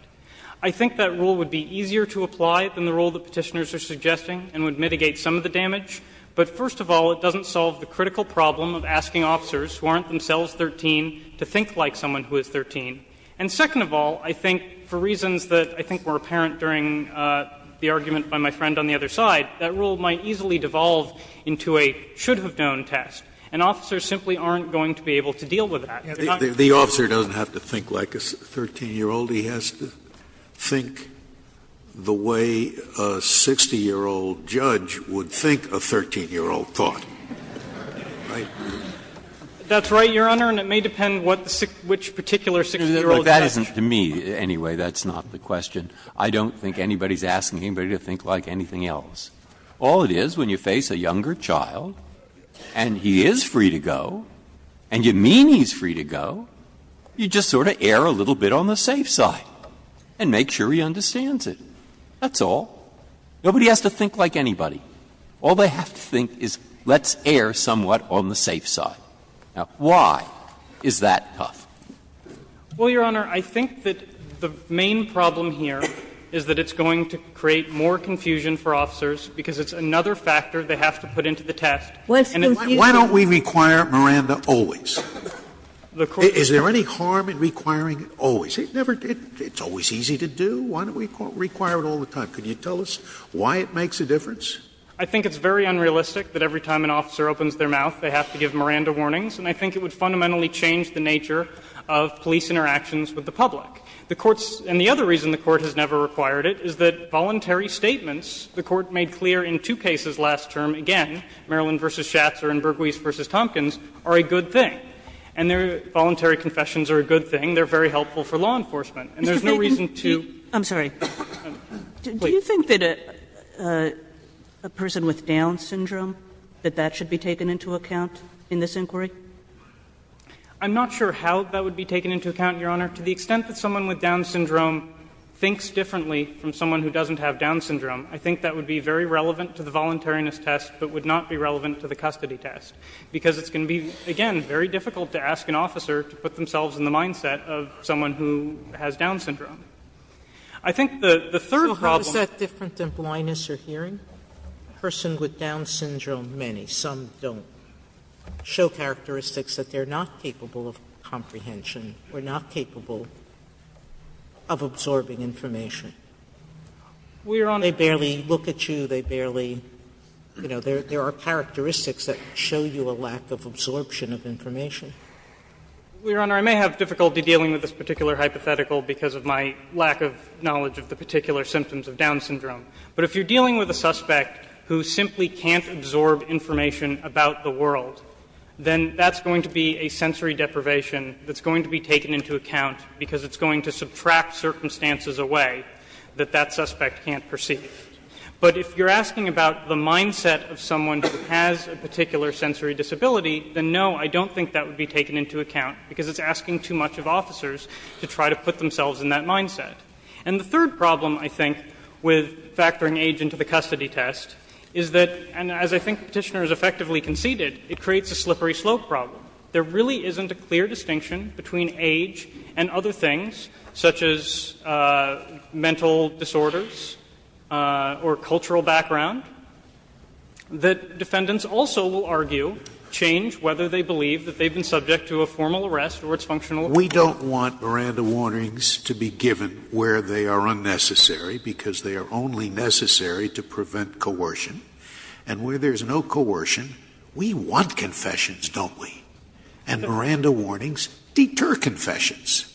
I think that rule would be easier to apply than the rule that Petitioners are suggesting and would mitigate some of the damage. But first of all, it doesn't solve the critical problem of asking officers who aren't themselves 13 to think like someone who is 13. And second of all, I think for reasons that I think were apparent during the argument by my friend on the other side, that rule might easily devolve into a should-have-known test, and officers simply aren't going to be able to deal with that. Scalia. The officer doesn't have to think like a 13-year-old. He has to think the way a 60-year-old judge would think a 13-year-old thought. Feigin. That's right, Your Honor, and it may depend what the 60 — which particular 60-year-old judge. Breyer. But that isn't to me, anyway. That's not the question. I don't think anybody's asking anybody to think like anything else. All it is, when you face a younger child and he is free to go, and you mean he's free to go, you just sort of err a little bit on the safe side and make sure he understands it. That's all. Nobody has to think like anybody. All they have to think is let's err somewhat on the safe side. Now, why is that tough? Well, Your Honor, I think that the main problem here is that it's going to create more confusion for officers because it's another factor they have to put into the test. Why don't we require, Miranda, always? Is there any harm in requiring always? It never — it's always easy to do. Why don't we require it all the time? Can you tell us why it makes a difference? I think it's very unrealistic that every time an officer opens their mouth, they have to give Miranda warnings. And I think it would fundamentally change the nature of police interactions with the public. The Court's — and the other reason the Court has never required it is that voluntary statements the Court made clear in two cases last term, again, Maryland v. Schatzer and Bergwies v. Tompkins, are a good thing. And their voluntary confessions are a good thing. They're very helpful for law enforcement. And there's no reason to — I'm sorry. Do you think that a person with Down syndrome, that that should be taken into account in this inquiry? I'm not sure how that would be taken into account, Your Honor. To the extent that someone with Down syndrome thinks differently from someone who doesn't have Down syndrome, I think that would be very relevant to the voluntariness test, but would not be relevant to the custody test, because it's going to be, again, very difficult to ask an officer to put themselves in the mindset of someone who has Down syndrome. I think the third problem— Sotomayor, how is that different than blindness or hearing? A person with Down syndrome, many, some don't, show characteristics that they're not capable of comprehension or not capable of absorbing information. They barely look at you. They barely — you know, there are characteristics that show you a lack of absorption of information. Your Honor, I may have difficulty dealing with this particular hypothetical because of my lack of knowledge of the particular symptoms of Down syndrome. But if you're dealing with a suspect who simply can't absorb information about the world, then that's going to be a sensory deprivation that's going to be taken into account, because it's going to subtract circumstances away that that suspect can't perceive. But if you're asking about the mindset of someone who has a particular sensory disability, then no, I don't think that would be taken into account, because it's asking too much of officers to try to put themselves in that mindset. And the third problem, I think, with factoring age into the custody test is that — and as I think Petitioner has effectively conceded, it creates a slippery slope problem. There really isn't a clear distinction between age and other things, such as mental disorders or cultural background, that defendants also will argue change whether they believe that they've been subject to a formal arrest or it's functional. We don't want Miranda warnings to be given where they are unnecessary, because they are only necessary to prevent coercion. And where there's no coercion, we want confessions, don't we? And Miranda warnings deter confessions.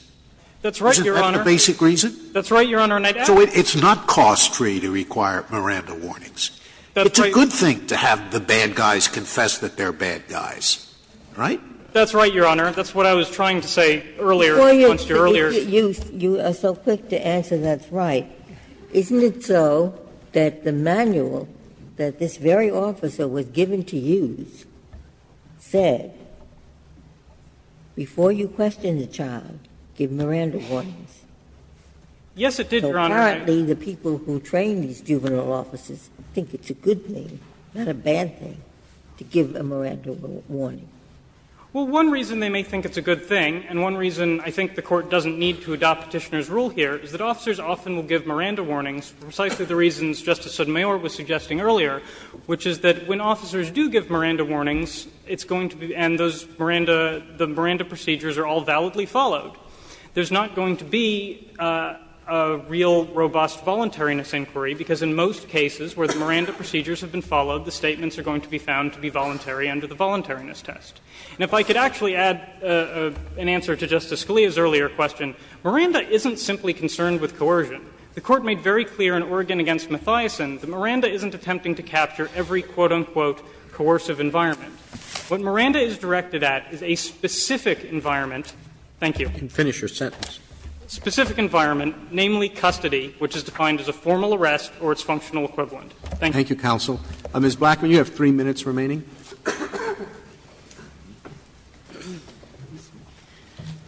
That's right, Your Honor. Isn't that the basic reason? That's right, Your Honor. So it's not cost-free to require Miranda warnings. It's a good thing to have the bad guys confess that they're bad guys, right? That's right, Your Honor. That's what I was trying to say earlier. Before you — you are so quick to answer that's right. Isn't it so that the manual that this very officer was given to use said, before you question the child, give Miranda warnings? Yes, it did, Your Honor. So currently the people who train these juvenile officers think it's a good thing, not a bad thing, to give a Miranda warning. Well, one reason they may think it's a good thing, and one reason I think the Court doesn't need to adopt Petitioner's rule here, is that officers often will give Miranda warnings, precisely the reasons Justice Sotomayor was suggesting earlier, which is that when officers do give Miranda warnings, it's going to be — and those Miranda — the Miranda procedures are all validly followed. There's not going to be a real robust voluntariness inquiry, because in most cases where the Miranda procedures have been followed, the statements are going to be found to be voluntary under the voluntariness test. Now, if I could actually add an answer to Justice Scalia's earlier question, Miranda isn't simply concerned with coercion. The Court made very clear in Oregon v. Mathiasson that Miranda isn't attempting to capture every quote, unquote, coercive environment. What Miranda is directed at is a specific environment — thank you. Roberts, you can finish your sentence. Specific environment, namely custody, which is defined as a formal arrest or its functional equivalent. Thank you. Thank you, counsel. Ms. Blackman, you have three minutes remaining.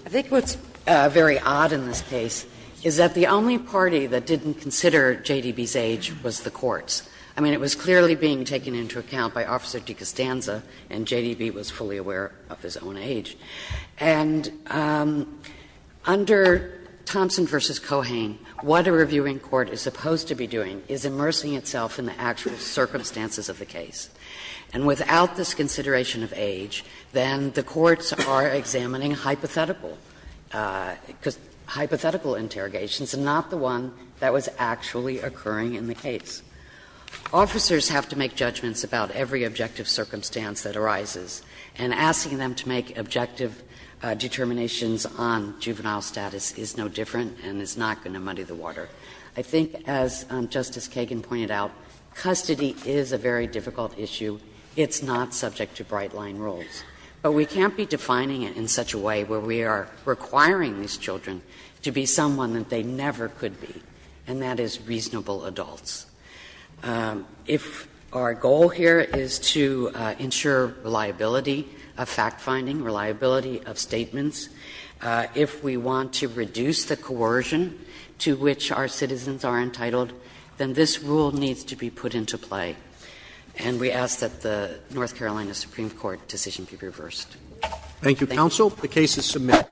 I think what's very odd in this case is that the only party that didn't consider JDB's age was the courts. I mean, it was clearly being taken into account by Officer DeCostanza, and JDB was fully aware of his own age. And under Thompson v. Cohane, what a reviewing court is supposed to be doing is immersing itself in the actual circumstances of the case. And without this consideration of age, then the courts are examining hypothetical — hypothetical interrogations and not the one that was actually occurring in the case. Officers have to make judgments about every objective circumstance that arises, and asking them to make objective determinations on juvenile status is no different and is not going to muddy the water. I think, as Justice Kagan pointed out, custody is a very difficult issue. It's not subject to bright-line rules. But we can't be defining it in such a way where we are requiring these children to be someone that they never could be, and that is reasonable adults. If our goal here is to ensure reliability of fact-finding, reliability of statements, if we want to reduce the coercion to which our citizens are entitled, then this rule needs to be put into play. And we ask that the North Carolina Supreme Court decision be reversed. Thank you. Roberts.